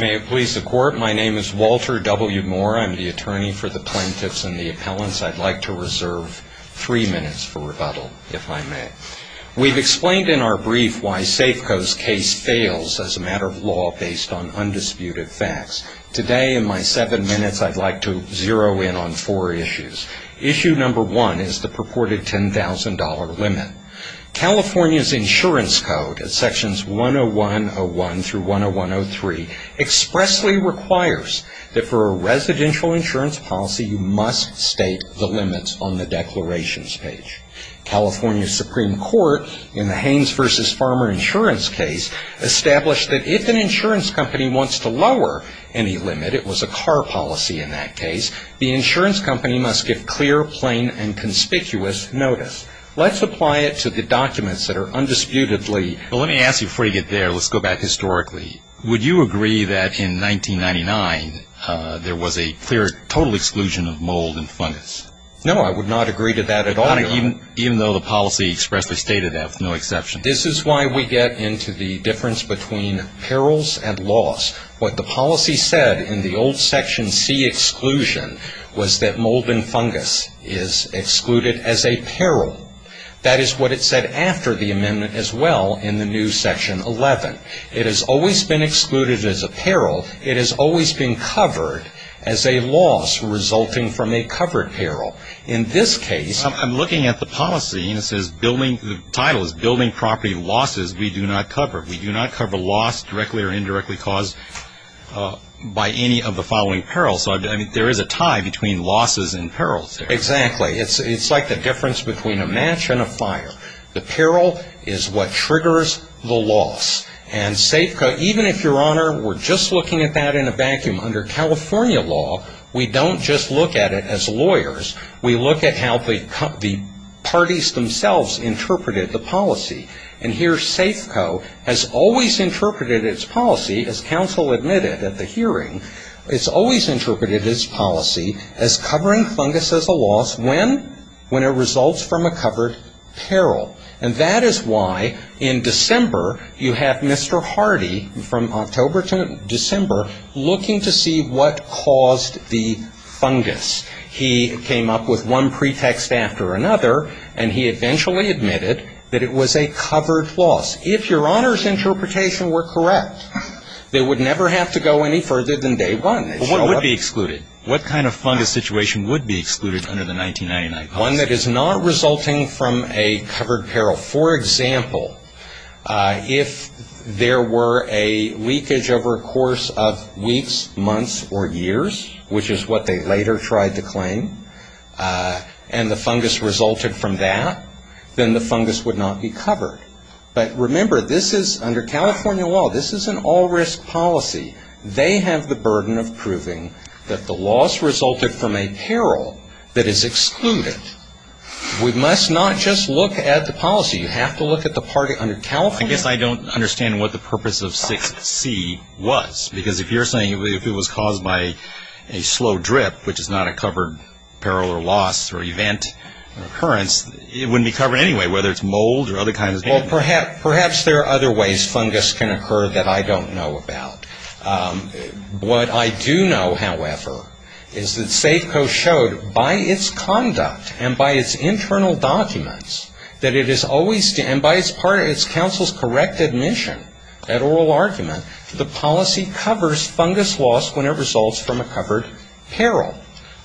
May it please the court, my name is Walter W. Moore. I'm the attorney for the plaintiffs and the appellants. I'd like to reserve three minutes for rebuttal, if I may. We've explained in our brief why Safeco's case fails as a matter of law based on undisputed facts. Today, in my seven minutes, I'd like to zero in on four issues. Issue number one is the purported $10,000 limit. California's insurance code at sections 101.01 through 101.03 expressly requires that for a residential insurance policy you must state the limits on the declarations page. California's Supreme Court, in the Haynes v. Farmer insurance case, established that if an insurance company wants to lower any limit, it was a car policy in that case, the insurance company must give clear, plain, and conspicuous notice. Let's apply it to the documents that are undisputedly... Let me ask you before you get there, let's go back historically. Would you agree that in 1999 there was a clear total exclusion of mold and fungus? No, I would not agree to that at all. Even though the policy expressly stated that with no exception. This is why we get into the difference between perils and loss. What the policy said in the old section C exclusion was that mold and fungus is excluded as a peril. That is what it said after the amendment as well in the new section 11. It has always been excluded as a peril. It has always been covered as a loss resulting from a covered peril. In this case... I'm looking at the policy and it says building property losses we do not cover. We do not cover loss directly or indirectly caused by any of the following perils. There is a tie between losses and perils there. Exactly. It's like the difference between a match and a fire. The peril is what triggers the loss. And Safeco, even if your honor, we're just looking at that in a vacuum. Under California law, we don't just look at it as lawyers. We look at how the parties themselves interpreted the policy. And here Safeco has always interpreted its policy as counsel admitted at the hearing. It's always interpreted its policy as covering fungus as a loss when? When it results from a covered peril. And that is why in December you have Mr. Hardy from October to December looking to see what caused the fungus. He came up with one pretext after another and he eventually admitted that it was a covered loss. If your honor's interpretation were correct, they would never have to go any further than day one. But what would be excluded? What kind of fungus situation would be excluded under the 1999 policy? that the loss resulted from a peril that is excluded. We must not just look at the policy. You have to look at the part under California. I guess I don't understand what the purpose of 6C was. Because if you're saying if it was caused by a slow drip, which is not a covered peril or loss or event or occurrence, it wouldn't be covered anyway, whether it's mold or other kinds of things. Well, perhaps there are other ways fungus can occur that I don't know about. What I do know, however, is that Safeco showed by its conduct and by its internal documents that it is always and by its counsel's correct admission at oral argument that the policy covers fungus loss when it results from a covered peril.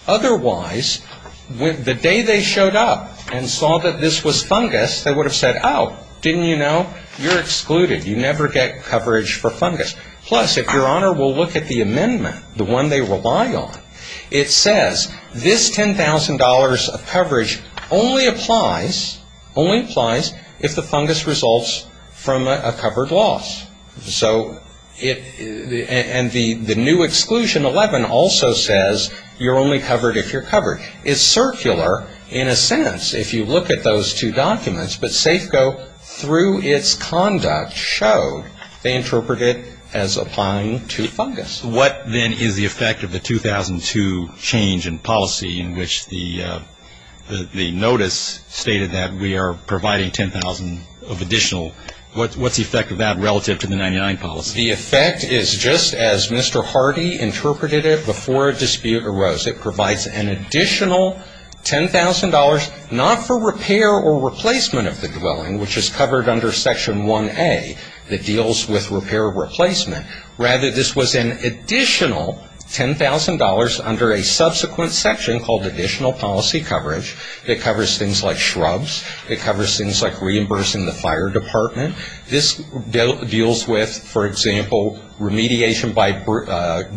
Otherwise, the day they showed up and saw that this was fungus, they would have said, oh, didn't you know? You're excluded. You never get coverage for fungus. Plus, if your honor will look at the amendment, the one they rely on, it says this $10,000 of coverage only applies if the fungus results from a covered loss. And the new exclusion 11 also says you're only covered if you're covered. It's circular, in a sense, if you look at those two documents. But Safeco, through its conduct, showed they interpret it as applying to fungus. What, then, is the effect of the 2002 change in policy in which the notice stated that we are providing $10,000 of additional? What's the effect of that relative to the 99 policy? The effect is just as Mr. Hardy interpreted it before a dispute arose. It provides an additional $10,000 not for repair or replacement of the dwelling, which is covered under Section 1A that deals with repair or replacement. Rather, this was an additional $10,000 under a subsequent section called Additional Policy Coverage that covers things like shrubs, that covers things like reimbursing the fire department. This deals with, for example, remediation by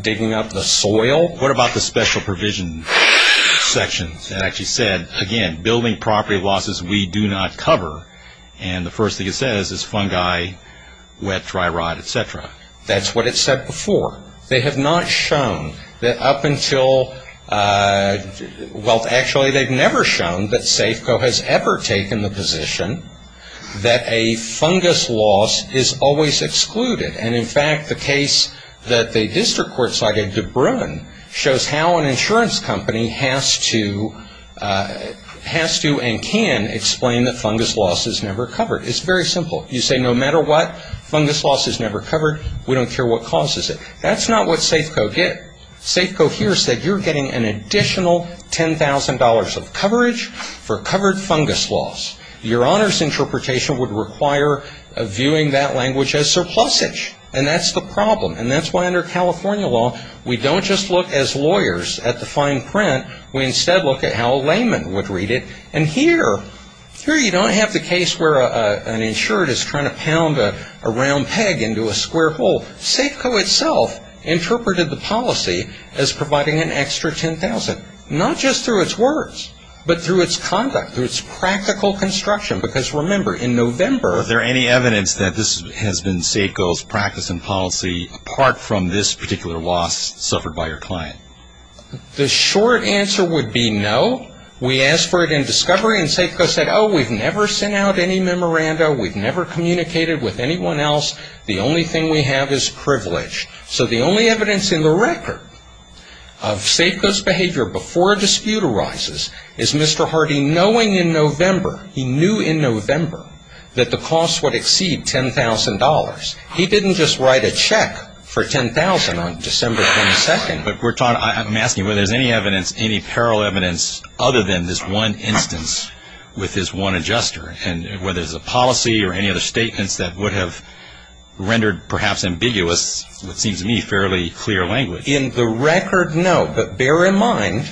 digging up the soil. What about the special provision section that actually said, again, building property losses we do not cover? And the first thing it says is fungi, wet, dry rot, etc. That's what it said before. They have not shown that up until, well, actually, they've never shown that Safeco has ever taken the position that a fungus loss is always excluded. And, in fact, the case that the district court cited, DeBruin, shows how an insurance company has to and can explain that fungus loss is never covered. It's very simple. You say no matter what, fungus loss is never covered. We don't care what causes it. That's not what Safeco did. Safeco here said you're getting an additional $10,000 of coverage for covered fungus loss. Your Honor's interpretation would require viewing that language as surplusage. And that's the problem. And that's why under California law, we don't just look as lawyers at the fine print. We instead look at how a layman would read it. And here, here you don't have the case where an insured is trying to pound a round peg into a square hole. Safeco itself interpreted the policy as providing an extra $10,000, not just through its words, but through its conduct, through its practical construction. Because, remember, in November Are there any evidence that this has been Safeco's practice and policy apart from this particular loss suffered by your client? The short answer would be no. We asked for it in discovery and Safeco said, oh, we've never sent out any memoranda. We've never communicated with anyone else. The only thing we have is privilege. So the only evidence in the record of Safeco's behavior before a dispute arises is Mr. Hardy knowing in November, he knew in November, that the cost would exceed $10,000. He didn't just write a check for $10,000 on December 22nd. But we're talking, I'm asking whether there's any evidence, any parallel evidence other than this one instance with this one adjuster. And whether there's a policy or any other statements that would have rendered perhaps ambiguous, what seems to me, fairly clear language. In the record, no. But bear in mind,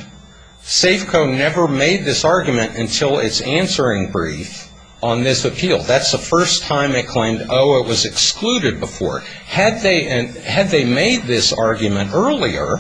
Safeco never made this argument until its answering brief on this appeal. That's the first time it claimed, oh, it was excluded before. Had they made this argument earlier,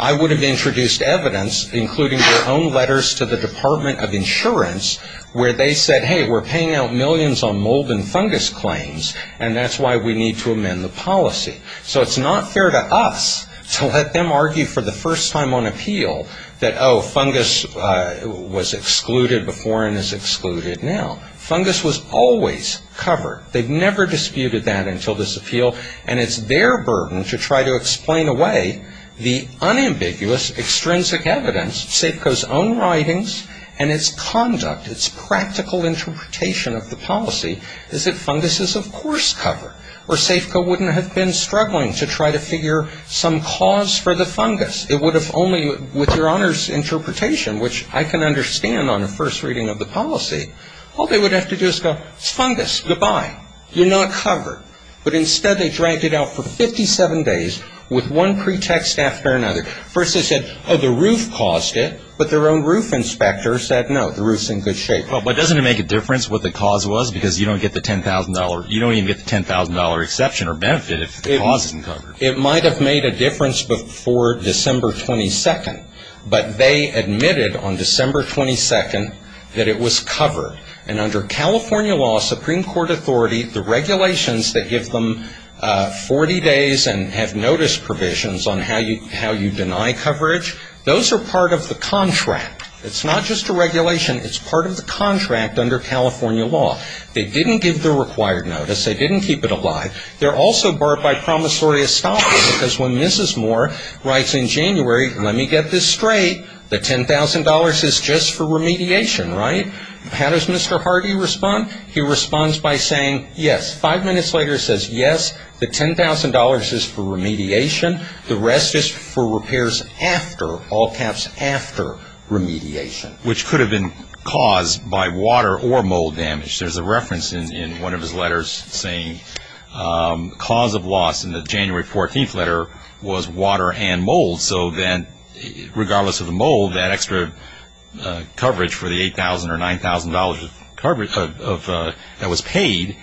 I would have introduced evidence, including their own letters to the Department of Insurance, where they said, hey, we're paying out millions on mold and fungus claims, and that's why we need to amend the policy. So it's not fair to us to let them argue for the first time on appeal that, oh, fungus was excluded before and is excluded now. Fungus was always covered. They've never disputed that until this appeal, and it's their burden to try to explain away the unambiguous, extrinsic evidence, Safeco's own writings and its conduct, its practical interpretation of the policy, is that fungus is, of course, covered. Or Safeco wouldn't have been struggling to try to figure some cause for the fungus. It would have only, with Your Honor's interpretation, which I can understand on a first reading of the policy, all they would have to do is go, it's fungus. Goodbye. You're not covered. But instead they dragged it out for 57 days with one pretext after another. First they said, oh, the roof caused it, but their own roof inspector said, no, the roof's in good shape. But doesn't it make a difference what the cause was? Because you don't get the $10,000 exception or benefit if the cause isn't covered. They didn't give the required notice. They didn't keep it alive. They're also barred by promissory estoppel because when Mrs. Moore writes in January, let me get this straight, the $10,000 is just for remediation, right? How does Mr. Hardy respond? He responds by saying, yes. Five minutes later he says, yes, the $10,000 is for remediation. The rest is for repairs after, all caps, after remediation. Which could have been caused by water or mold damage. There's a reference in one of his letters saying cause of loss in the January 14th letter was water and mold. So then regardless of the mold, that extra coverage for the $8,000 or $9,000 that was paid,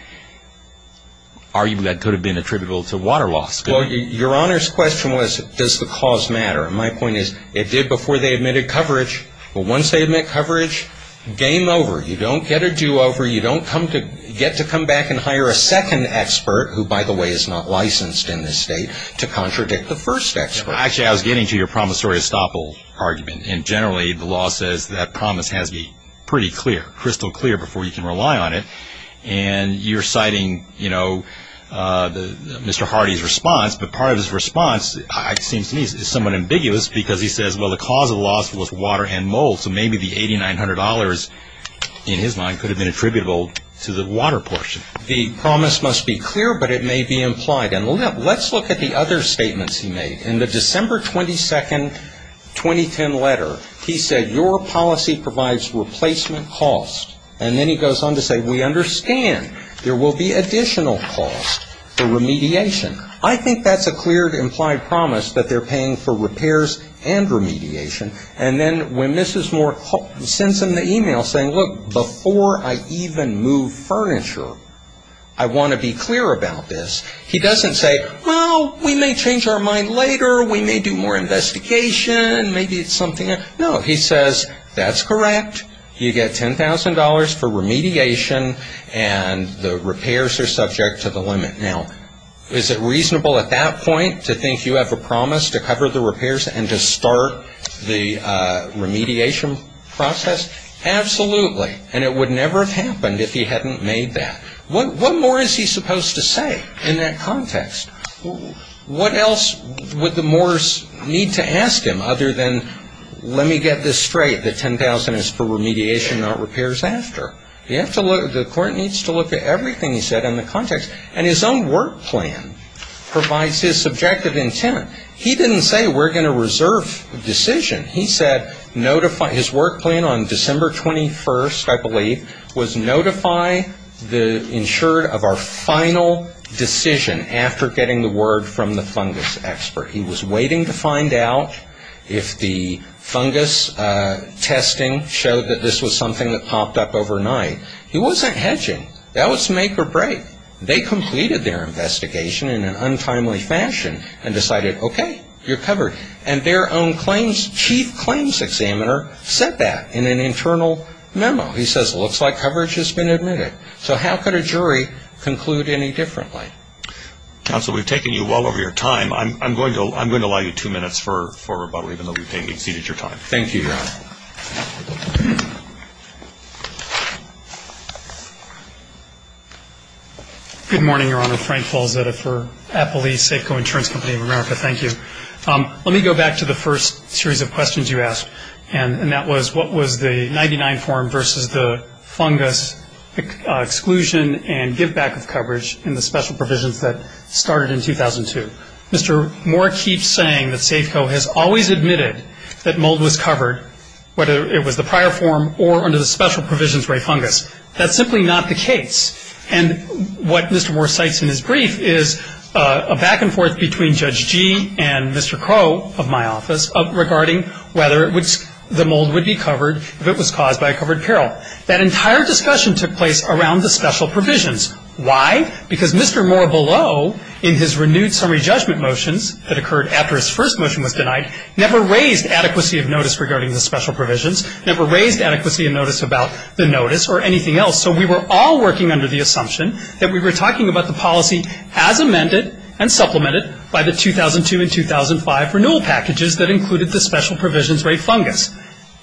arguably that could have been attributable to water loss. Your Honor's question was, does the cause matter? And my point is, it did before they admitted coverage. But once they admit coverage, game over. You don't get a do-over. You don't get to come back and hire a second expert, who by the way is not licensed in this state, to contradict the first expert. Actually, I was getting to your promissory estoppel argument. And generally the law says that promise has to be pretty clear, crystal clear before you can rely on it. And you're citing, you know, Mr. Hardy's response. But part of his response seems to me somewhat ambiguous because he says, well, the cause of loss was water and mold. So maybe the $8,900 in his mind could have been attributable to the water portion. The promise must be clear, but it may be implied. And let's look at the other statements he made. In the December 22nd 2010 letter, he said, your policy provides replacement costs. And then he goes on to say, we understand there will be additional costs for remediation. I think that's a clear implied promise that they're paying for repairs and remediation. And then when Mrs. Moore sends him the email saying, look, before I even move furniture, I want to be clear about this, he doesn't say, well, we may change our mind later. We may do more investigation. Maybe it's something else. No, he says, that's correct. You get $10,000 for remediation and the repairs are subject to the limit. Now, is it reasonable at that point to think you have a promise to cover the repairs and to start the remediation process? Absolutely. And it would never have happened if he hadn't made that. What more is he supposed to say in that context? What else would the Moores need to ask him other than, let me get this straight, the $10,000 is for remediation, not repairs after? The court needs to look at everything he said in the context. And his own work plan provides his subjective intent. He didn't say, we're going to reserve the decision. He said, notify his work plan on December 21st, I believe, was notify the insured of our final decision after getting the word from the fungus expert. He was waiting to find out if the fungus testing showed that this was something that popped up overnight. He wasn't hedging. That was make or break. They completed their investigation in an untimely fashion and decided, okay, you're covered. And their own chief claims examiner said that in an internal memo. He says, looks like coverage has been admitted. So how could a jury conclude any differently? Counsel, we've taken you well over your time. I'm going to allow you two minutes for rebuttal, even though you've exceeded your time. Good morning, Your Honor. Frank Falzetta for Applebee's Safeco Insurance Company of America. Thank you. Let me go back to the first series of questions you asked. And that was, what was the 99 form versus the fungus exclusion and give back of coverage in the special provisions that started in 2002? Mr. Moore keeps saying that Safeco has always admitted that mold was covered, whether it was the prior form or under the special provisions for a fungus. That's simply not the case. And what Mr. Moore cites in his brief is a back and forth between Judge Gee and Mr. Crow of my office regarding whether the mold would be covered if it was caused by a covered peril. That entire discussion took place around the special provisions. Why? Because Mr. Moore below, in his renewed summary judgment motions that occurred after his first motion was denied, never raised adequacy of notice regarding the special provisions, never raised adequacy of notice about the notice or anything else. So we were all working under the assumption that we were talking about the policy as amended and supplemented by the 2002 and 2005 renewal packages that included the special provisions rate fungus.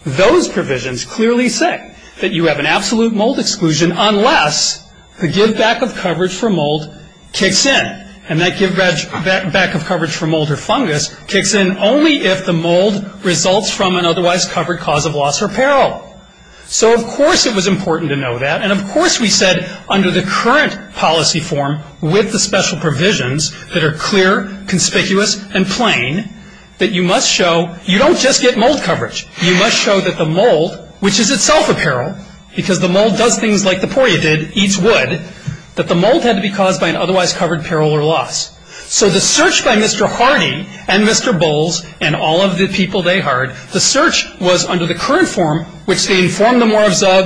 Those provisions clearly say that you have an absolute mold exclusion unless the give back of coverage for mold kicks in. And that give back of coverage for mold or fungus kicks in only if the mold results from an otherwise covered cause of loss or peril. So of course it was important to know that. And of course we said under the current policy form with the special provisions that are clear, conspicuous, and plain that you must show you don't just get mold coverage. You must show that the mold, which is itself a peril, because the mold does things like the porya did, eats wood, that the mold had to be caused by an otherwise covered peril or loss. So the search by Mr. Hardy and Mr. Bowles and all of the people they hired, the search was under the current form, which they informed the Moores of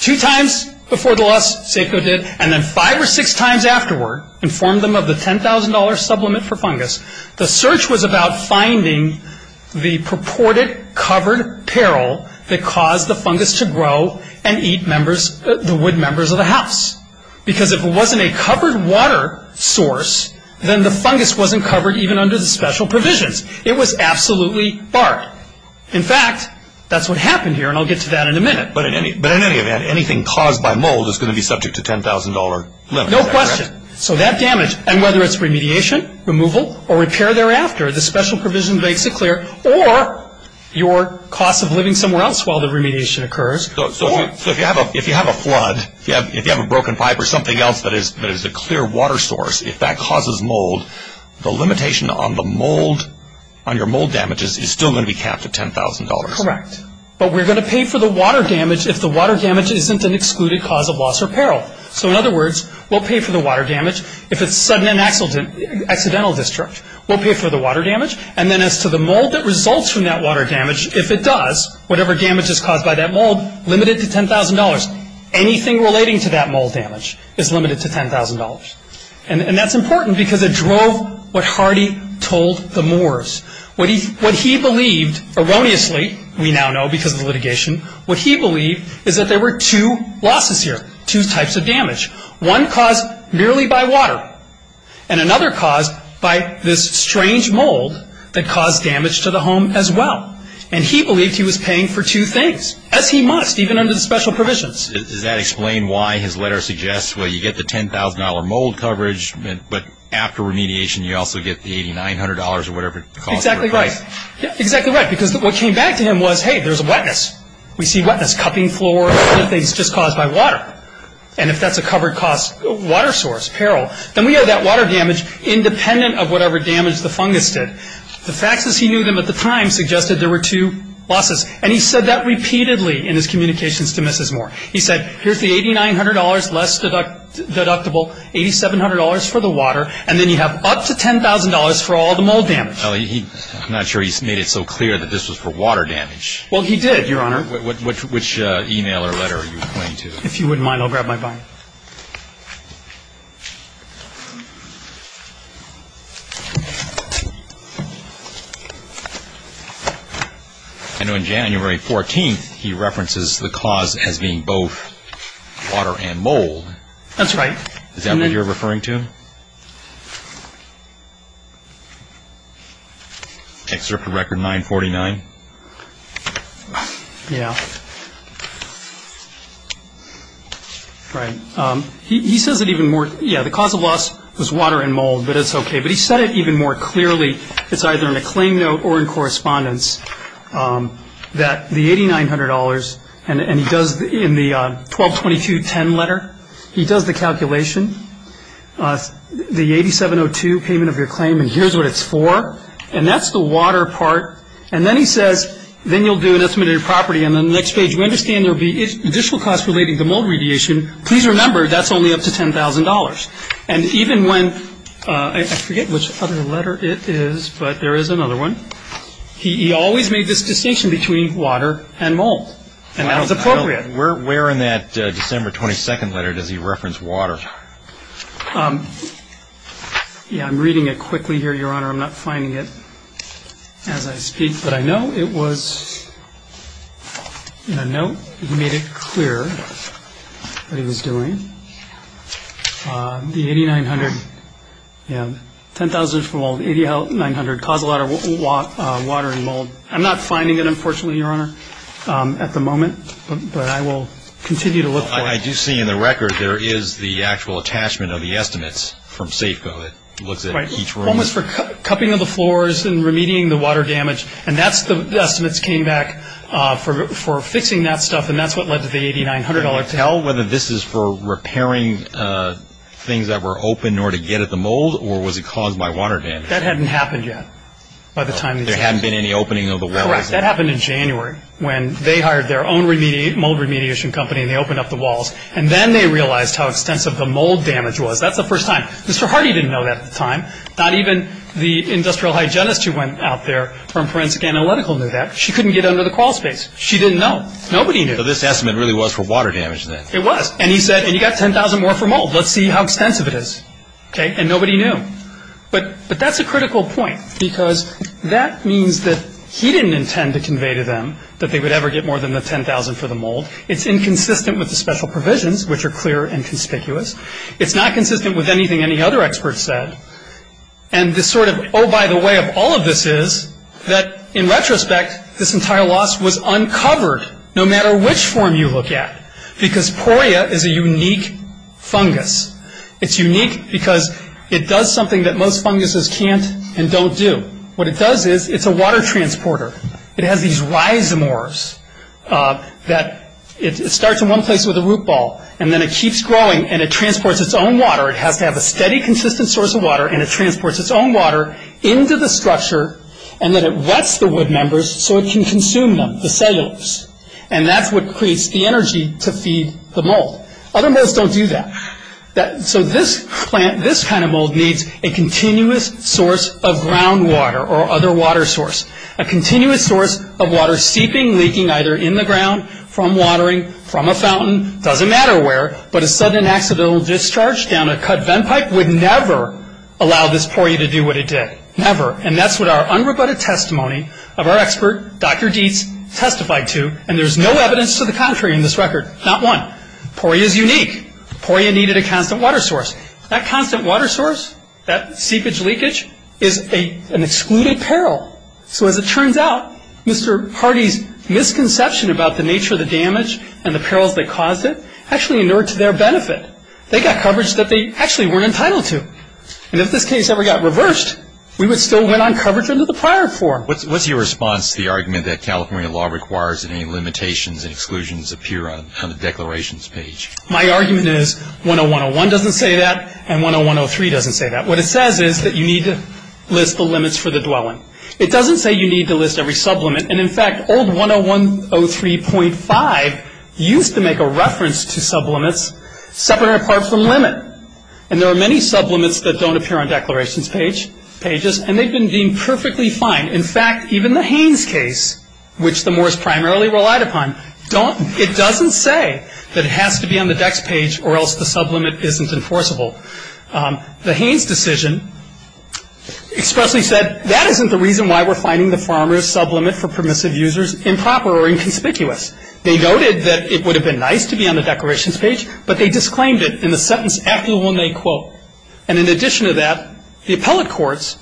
two times before the loss, Safeco did, and then five or six times afterward, informed them of the $10,000 supplement for fungus. The search was about finding the purported covered peril that caused the fungus to grow and eat members, the wood members of the house. Because if it wasn't a covered water source, then the fungus wasn't covered even under the special provisions. It was absolutely barred. In fact, that's what happened here and I'll get to that in a minute. But in any event, anything caused by mold is going to be subject to $10,000 limit. No question. So that damage, and whether it's remediation, removal, or repair thereafter, the special provision makes it clear, or your cost of living somewhere else while the remediation occurs. So if you have a flood, if you have a broken pipe or something else that is a clear water source, if that causes mold, the limitation on the mold, on your mold damages, is still going to be capped at $10,000. Correct. But we're going to pay for the water damage if the water damage isn't an excluded cause of loss or peril. So in other words, we'll pay for the water damage if it's an accidental discharge. We'll pay for the water damage. And then as to the mold that results from that water damage, if it does, whatever damage is caused by that mold, limited to $10,000. Anything relating to that mold damage is limited to $10,000. And that's important because it drove what Hardy told the Moores. What he believed, erroneously, we now know because of the litigation, what he believed is that there were two losses here, two types of damage. One caused merely by water, and another caused by this strange mold that caused damage to the home as well. And he believed he was paying for two things, as he must, even under the special provisions. Does that explain why his letter suggests, well, you get the $10,000 mold coverage, but after remediation you also get the $8,900 or whatever it costs? Exactly right. Exactly right. Because what came back to him was, hey, there's a wetness. We see wetness, cupping floors, other things just caused by water. And if that's a covered cause, water source, peril, then we have that water damage independent of whatever damage the fungus did. The facts as he knew them at the time suggested there were two losses. And he said that repeatedly in his communications to Mrs. Moore. He said, here's the $8,900 less deductible, $8,700 for the water, and then you have up to $10,000 for all the mold damage. I'm not sure he made it so clear that this was for water damage. Well, he did, Your Honor. Which e-mail or letter are you pointing to? If you wouldn't mind, I'll grab my binder. I know on January 14th he references the cause as being both water and mold. That's right. Is that what you're referring to? Excerpt of Record 949. Yeah. Right. He says it even more. Yeah, the cause of loss was water and mold, but it's OK. But he said it even more clearly. It's either in a claim note or in correspondence that the $8,900 and he does in the 122210 letter, he does the calculation. The 8702 payment of your claim, and here's what it's for. And that's the water part. And then he says, then you'll do an estimate of your property. And then the next page, we understand there will be additional costs relating to mold radiation. Please remember, that's only up to $10,000. And even when – I forget which other letter it is, but there is another one. He always made this distinction between water and mold, and that was appropriate. Where in that December 22nd letter does he reference water? Yeah, I'm reading it quickly here, Your Honor. I'm not finding it as I speak, but I know it was in a note. He made it clear what he was doing. The $8,900, yeah, $10,000 for mold, $8,900 cause of water and mold. I'm not finding it, unfortunately, Your Honor, at the moment, but I will continue to look for it. I do see in the record there is the actual attachment of the estimates from Safeco. It looks at each room. Right. One was for cupping of the floors and remedying the water damage. And that's the estimates came back for fixing that stuff, and that's what led to the $8,900. Can you tell whether this is for repairing things that were open in order to get at the mold, or was it caused by water damage? That hadn't happened yet. There hadn't been any opening of the walls. That happened in January when they hired their own mold remediation company, and they opened up the walls. And then they realized how extensive the mold damage was. That's the first time. Mr. Hardy didn't know that at the time. Not even the industrial hygienist who went out there from Forensic Analytical knew that. She couldn't get under the crawl space. She didn't know. Nobody knew. So this estimate really was for water damage then. It was. And he said, and you've got $10,000 more for mold. Let's see how extensive it is. And nobody knew. But that's a critical point, because that means that he didn't intend to convey to them that they would ever get more than the $10,000 for the mold. It's inconsistent with the special provisions, which are clear and conspicuous. It's not consistent with anything any other expert said. And the sort of oh-by-the-way of all of this is that, in retrospect, this entire loss was uncovered, no matter which form you look at, because poria is a unique fungus. It's unique because it does something that most funguses can't and don't do. What it does is it's a water transporter. It has these rhizomorphs that it starts in one place with a root ball, and then it keeps growing and it transports its own water. It has to have a steady, consistent source of water, and it transports its own water into the structure, and then it wets the wood members so it can consume them, the cellulose. And that's what creates the energy to feed the mold. Other molds don't do that. So this plant, this kind of mold, needs a continuous source of groundwater or other water source, a continuous source of water seeping, leaking, either in the ground, from watering, from a fountain, doesn't matter where, but a sudden accidental discharge down a cut vent pipe would never allow this poria to do what it did, never. And that's what our unrebutted testimony of our expert, Dr. Dietz, testified to, and there's no evidence to the contrary in this record, not one. Poria is unique. Poria needed a constant water source. That constant water source, that seepage leakage, is an excluded peril. So as it turns out, Mr. Hardy's misconception about the nature of the damage and the perils that caused it actually inured to their benefit. They got coverage that they actually weren't entitled to. And if this case ever got reversed, we would still win on coverage under the prior form. What's your response to the argument that California law requires that any limitations and exclusions appear on the declarations page? My argument is 101.01 doesn't say that, and 101.03 doesn't say that. What it says is that you need to list the limits for the dwelling. It doesn't say you need to list every sublimit, and, in fact, old 101.03.5 used to make a reference to sublimits separate apart from limit, and there are many sublimits that don't appear on declarations pages, and they've been deemed perfectly fine. In fact, even the Haynes case, which the moors primarily relied upon, it doesn't say that it has to be on the decks page or else the sublimit isn't enforceable. The Haynes decision expressly said that isn't the reason why we're finding the farmer's sublimit for permissive users improper or inconspicuous. They noted that it would have been nice to be on the declarations page, but they disclaimed it in the sentence after the one they quote. And in addition to that, the appellate courts,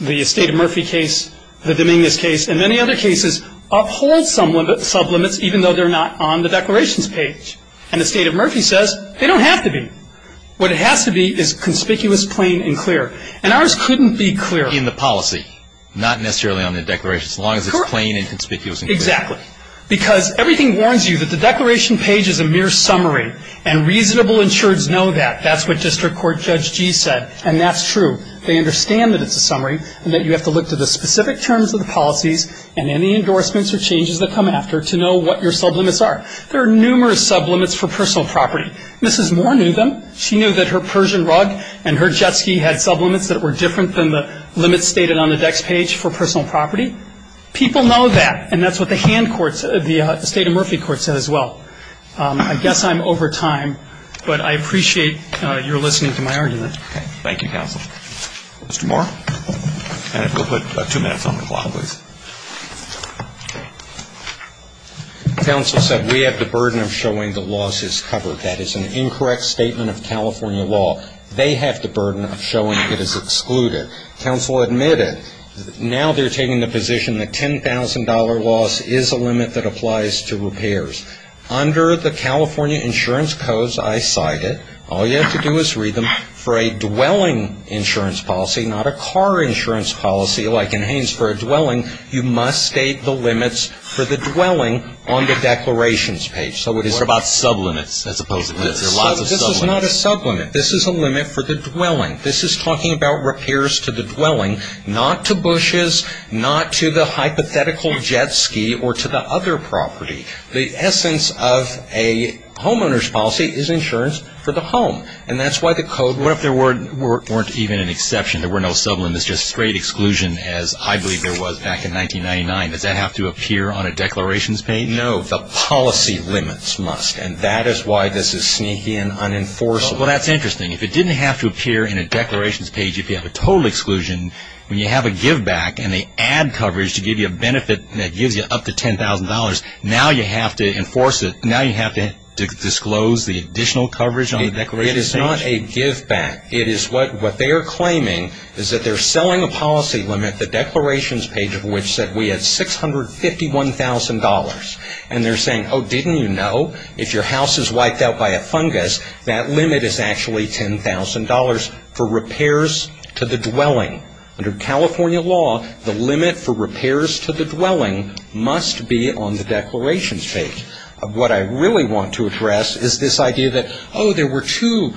the Estate of Murphy case, the Dominguez case, and many other cases uphold sublimits even though they're not on the declarations page. And the Estate of Murphy says they don't have to be. What it has to be is conspicuous, plain, and clear, and ours couldn't be clear. In the policy, not necessarily on the declarations, as long as it's plain and conspicuous and clear. Correct. Exactly. Because everything warns you that the declaration page is a mere summary, and reasonable insureds know that. That's what District Court Judge Gee said, and that's true. They understand that it's a summary and that you have to look to the specific terms of the policies and any endorsements or changes that come after to know what your sublimits are. There are numerous sublimits for personal property. Mrs. Moore knew them. She knew that her Persian rug and her jet ski had sublimits that were different than the limits stated on the decks page for personal property. People know that, and that's what the hand courts, the Estate of Murphy courts said as well. I guess I'm over time, but I appreciate your listening to my argument. Okay. Thank you, counsel. Mr. Moore. Go put two minutes on the clock, please. Counsel said we have the burden of showing the loss is covered. That is an incorrect statement of California law. They have the burden of showing it is excluded. Counsel admitted. Now they're taking the position that $10,000 loss is a limit that applies to repairs. Under the California insurance codes I cited, all you have to do is read them. For a dwelling insurance policy, not a car insurance policy like in Haines for a dwelling, you must state the limits for the dwelling on the declarations page. What about sublimits as opposed to this? There are lots of sublimits. This is a limit for the dwelling. This is talking about repairs to the dwelling, not to bushes, not to the hypothetical jet ski, or to the other property. The essence of a homeowner's policy is insurance for the home, and that's why the code... What if there weren't even an exception? There were no sublimits, just straight exclusion as I believe there was back in 1999. Does that have to appear on a declarations page? No. The policy limits must, and that is why this is sneaky and unenforceable. Well, that's interesting. If it didn't have to appear in a declarations page, if you have a total exclusion, when you have a giveback and they add coverage to give you a benefit that gives you up to $10,000, now you have to enforce it, now you have to disclose the additional coverage on the declarations page? It is not a giveback. It is what they are claiming is that they're selling a policy limit, the declarations page, which said we had $651,000. And they're saying, oh, didn't you know if your house is wiped out by a fungus, that limit is actually $10,000 for repairs to the dwelling. Under California law, the limit for repairs to the dwelling must be on the declarations page. What I really want to address is this idea that, oh, there were two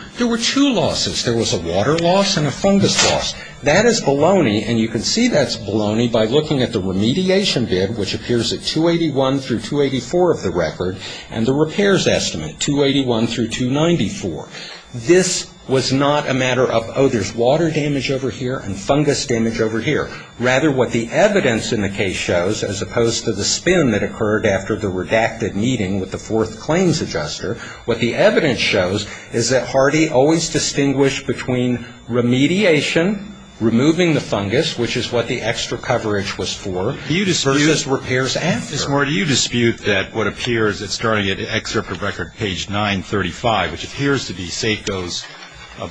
losses. There was a water loss and a fungus loss. That is baloney, and you can see that's baloney by looking at the remediation bid, which appears at 281 through 284 of the record, and the repairs estimate, 281 through 294. This was not a matter of, oh, there's water damage over here and fungus damage over here. Rather, what the evidence in the case shows, as opposed to the spin that occurred after the redacted meeting with the fourth claims adjuster, what the evidence shows is that Hardy always distinguished between remediation, removing the fungus, which is what the extra coverage was for, versus repairs after. Mr. Moore, do you dispute that what appears at starting at the excerpt of record page 935, which appears to be SACO's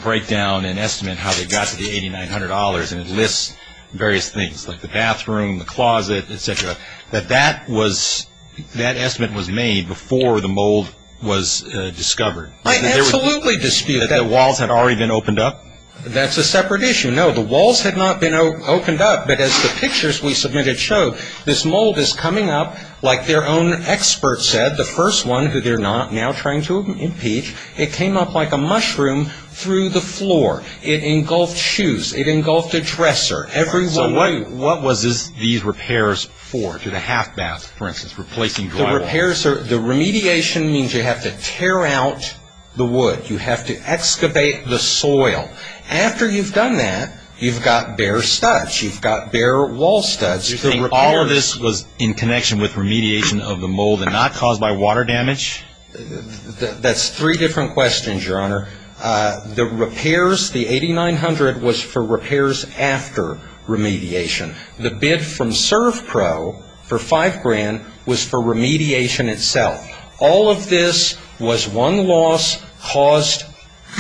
breakdown and estimate how they got to the $8,900, and it lists various things like the bathroom, the closet, et cetera, that that estimate was made before the mold was discovered? I absolutely dispute that. That the walls had already been opened up? That's a separate issue. No, the walls had not been opened up, but as the pictures we submitted show, this mold is coming up like their own expert said, the first one, who they're not now trying to impeach. It came up like a mushroom through the floor. It engulfed shoes. It engulfed a dresser. So what was these repairs for, to the half bath, for instance, replacing drywall? The repairs, the remediation means you have to tear out the wood. You have to excavate the soil. After you've done that, you've got bare studs. You've got bare wall studs. So all of this was in connection with remediation of the mold and not caused by water damage? That's three different questions, Your Honor. The repairs, the $8,900 was for repairs after remediation. The bid from ServPro for $5,000 was for remediation itself. All of this was one loss caused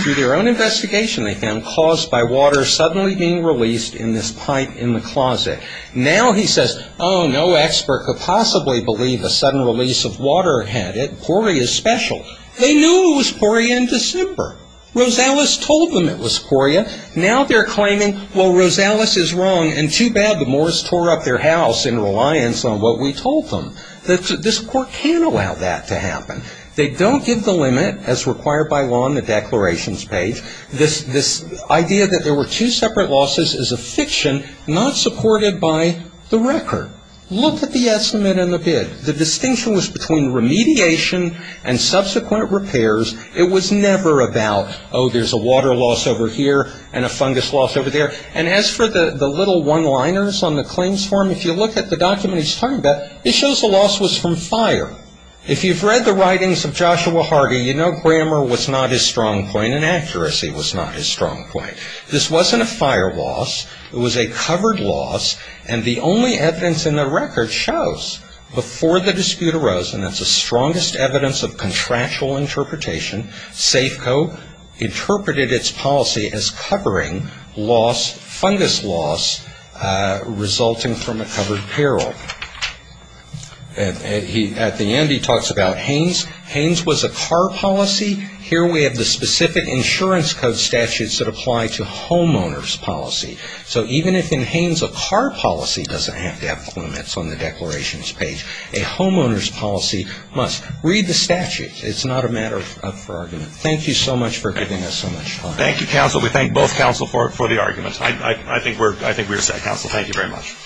through their own investigation, they found, caused by water suddenly being released in this pipe in the closet. Now he says, oh, no expert could possibly believe a sudden release of water had it. Poria is special. They knew it was Poria in December. Rosales told them it was Poria. Now they're claiming, well, Rosales is wrong, and too bad the Moors tore up their house in reliance on what we told them. This Court can allow that to happen. They don't give the limit as required by law in the declarations page. This idea that there were two separate losses is a fiction not supported by the record. Look at the estimate and the bid. The distinction was between remediation and subsequent repairs. It was never about, oh, there's a water loss over here and a fungus loss over there. And as for the little one-liners on the claims form, if you look at the document he's talking about, it shows the loss was from fire. If you've read the writings of Joshua Hardy, you know grammar was not his strong point and accuracy was not his strong point. This wasn't a fire loss. It was a covered loss, and the only evidence in the record shows before the dispute arose, and that's the strongest evidence of contractual interpretation, Safeco interpreted its policy as covering fungus loss resulting from a covered peril. At the end he talks about Haynes. Haynes was a car policy. Here we have the specific insurance code statutes that apply to homeowner's policy. So even if in Haynes a car policy doesn't have to have limits on the declarations page, a homeowner's policy must. Read the statute. It's not a matter for argument. Thank you so much for giving us so much time. Thank you, counsel. We thank both counsel for the argument. I think we're set. Counsel, thank you very much.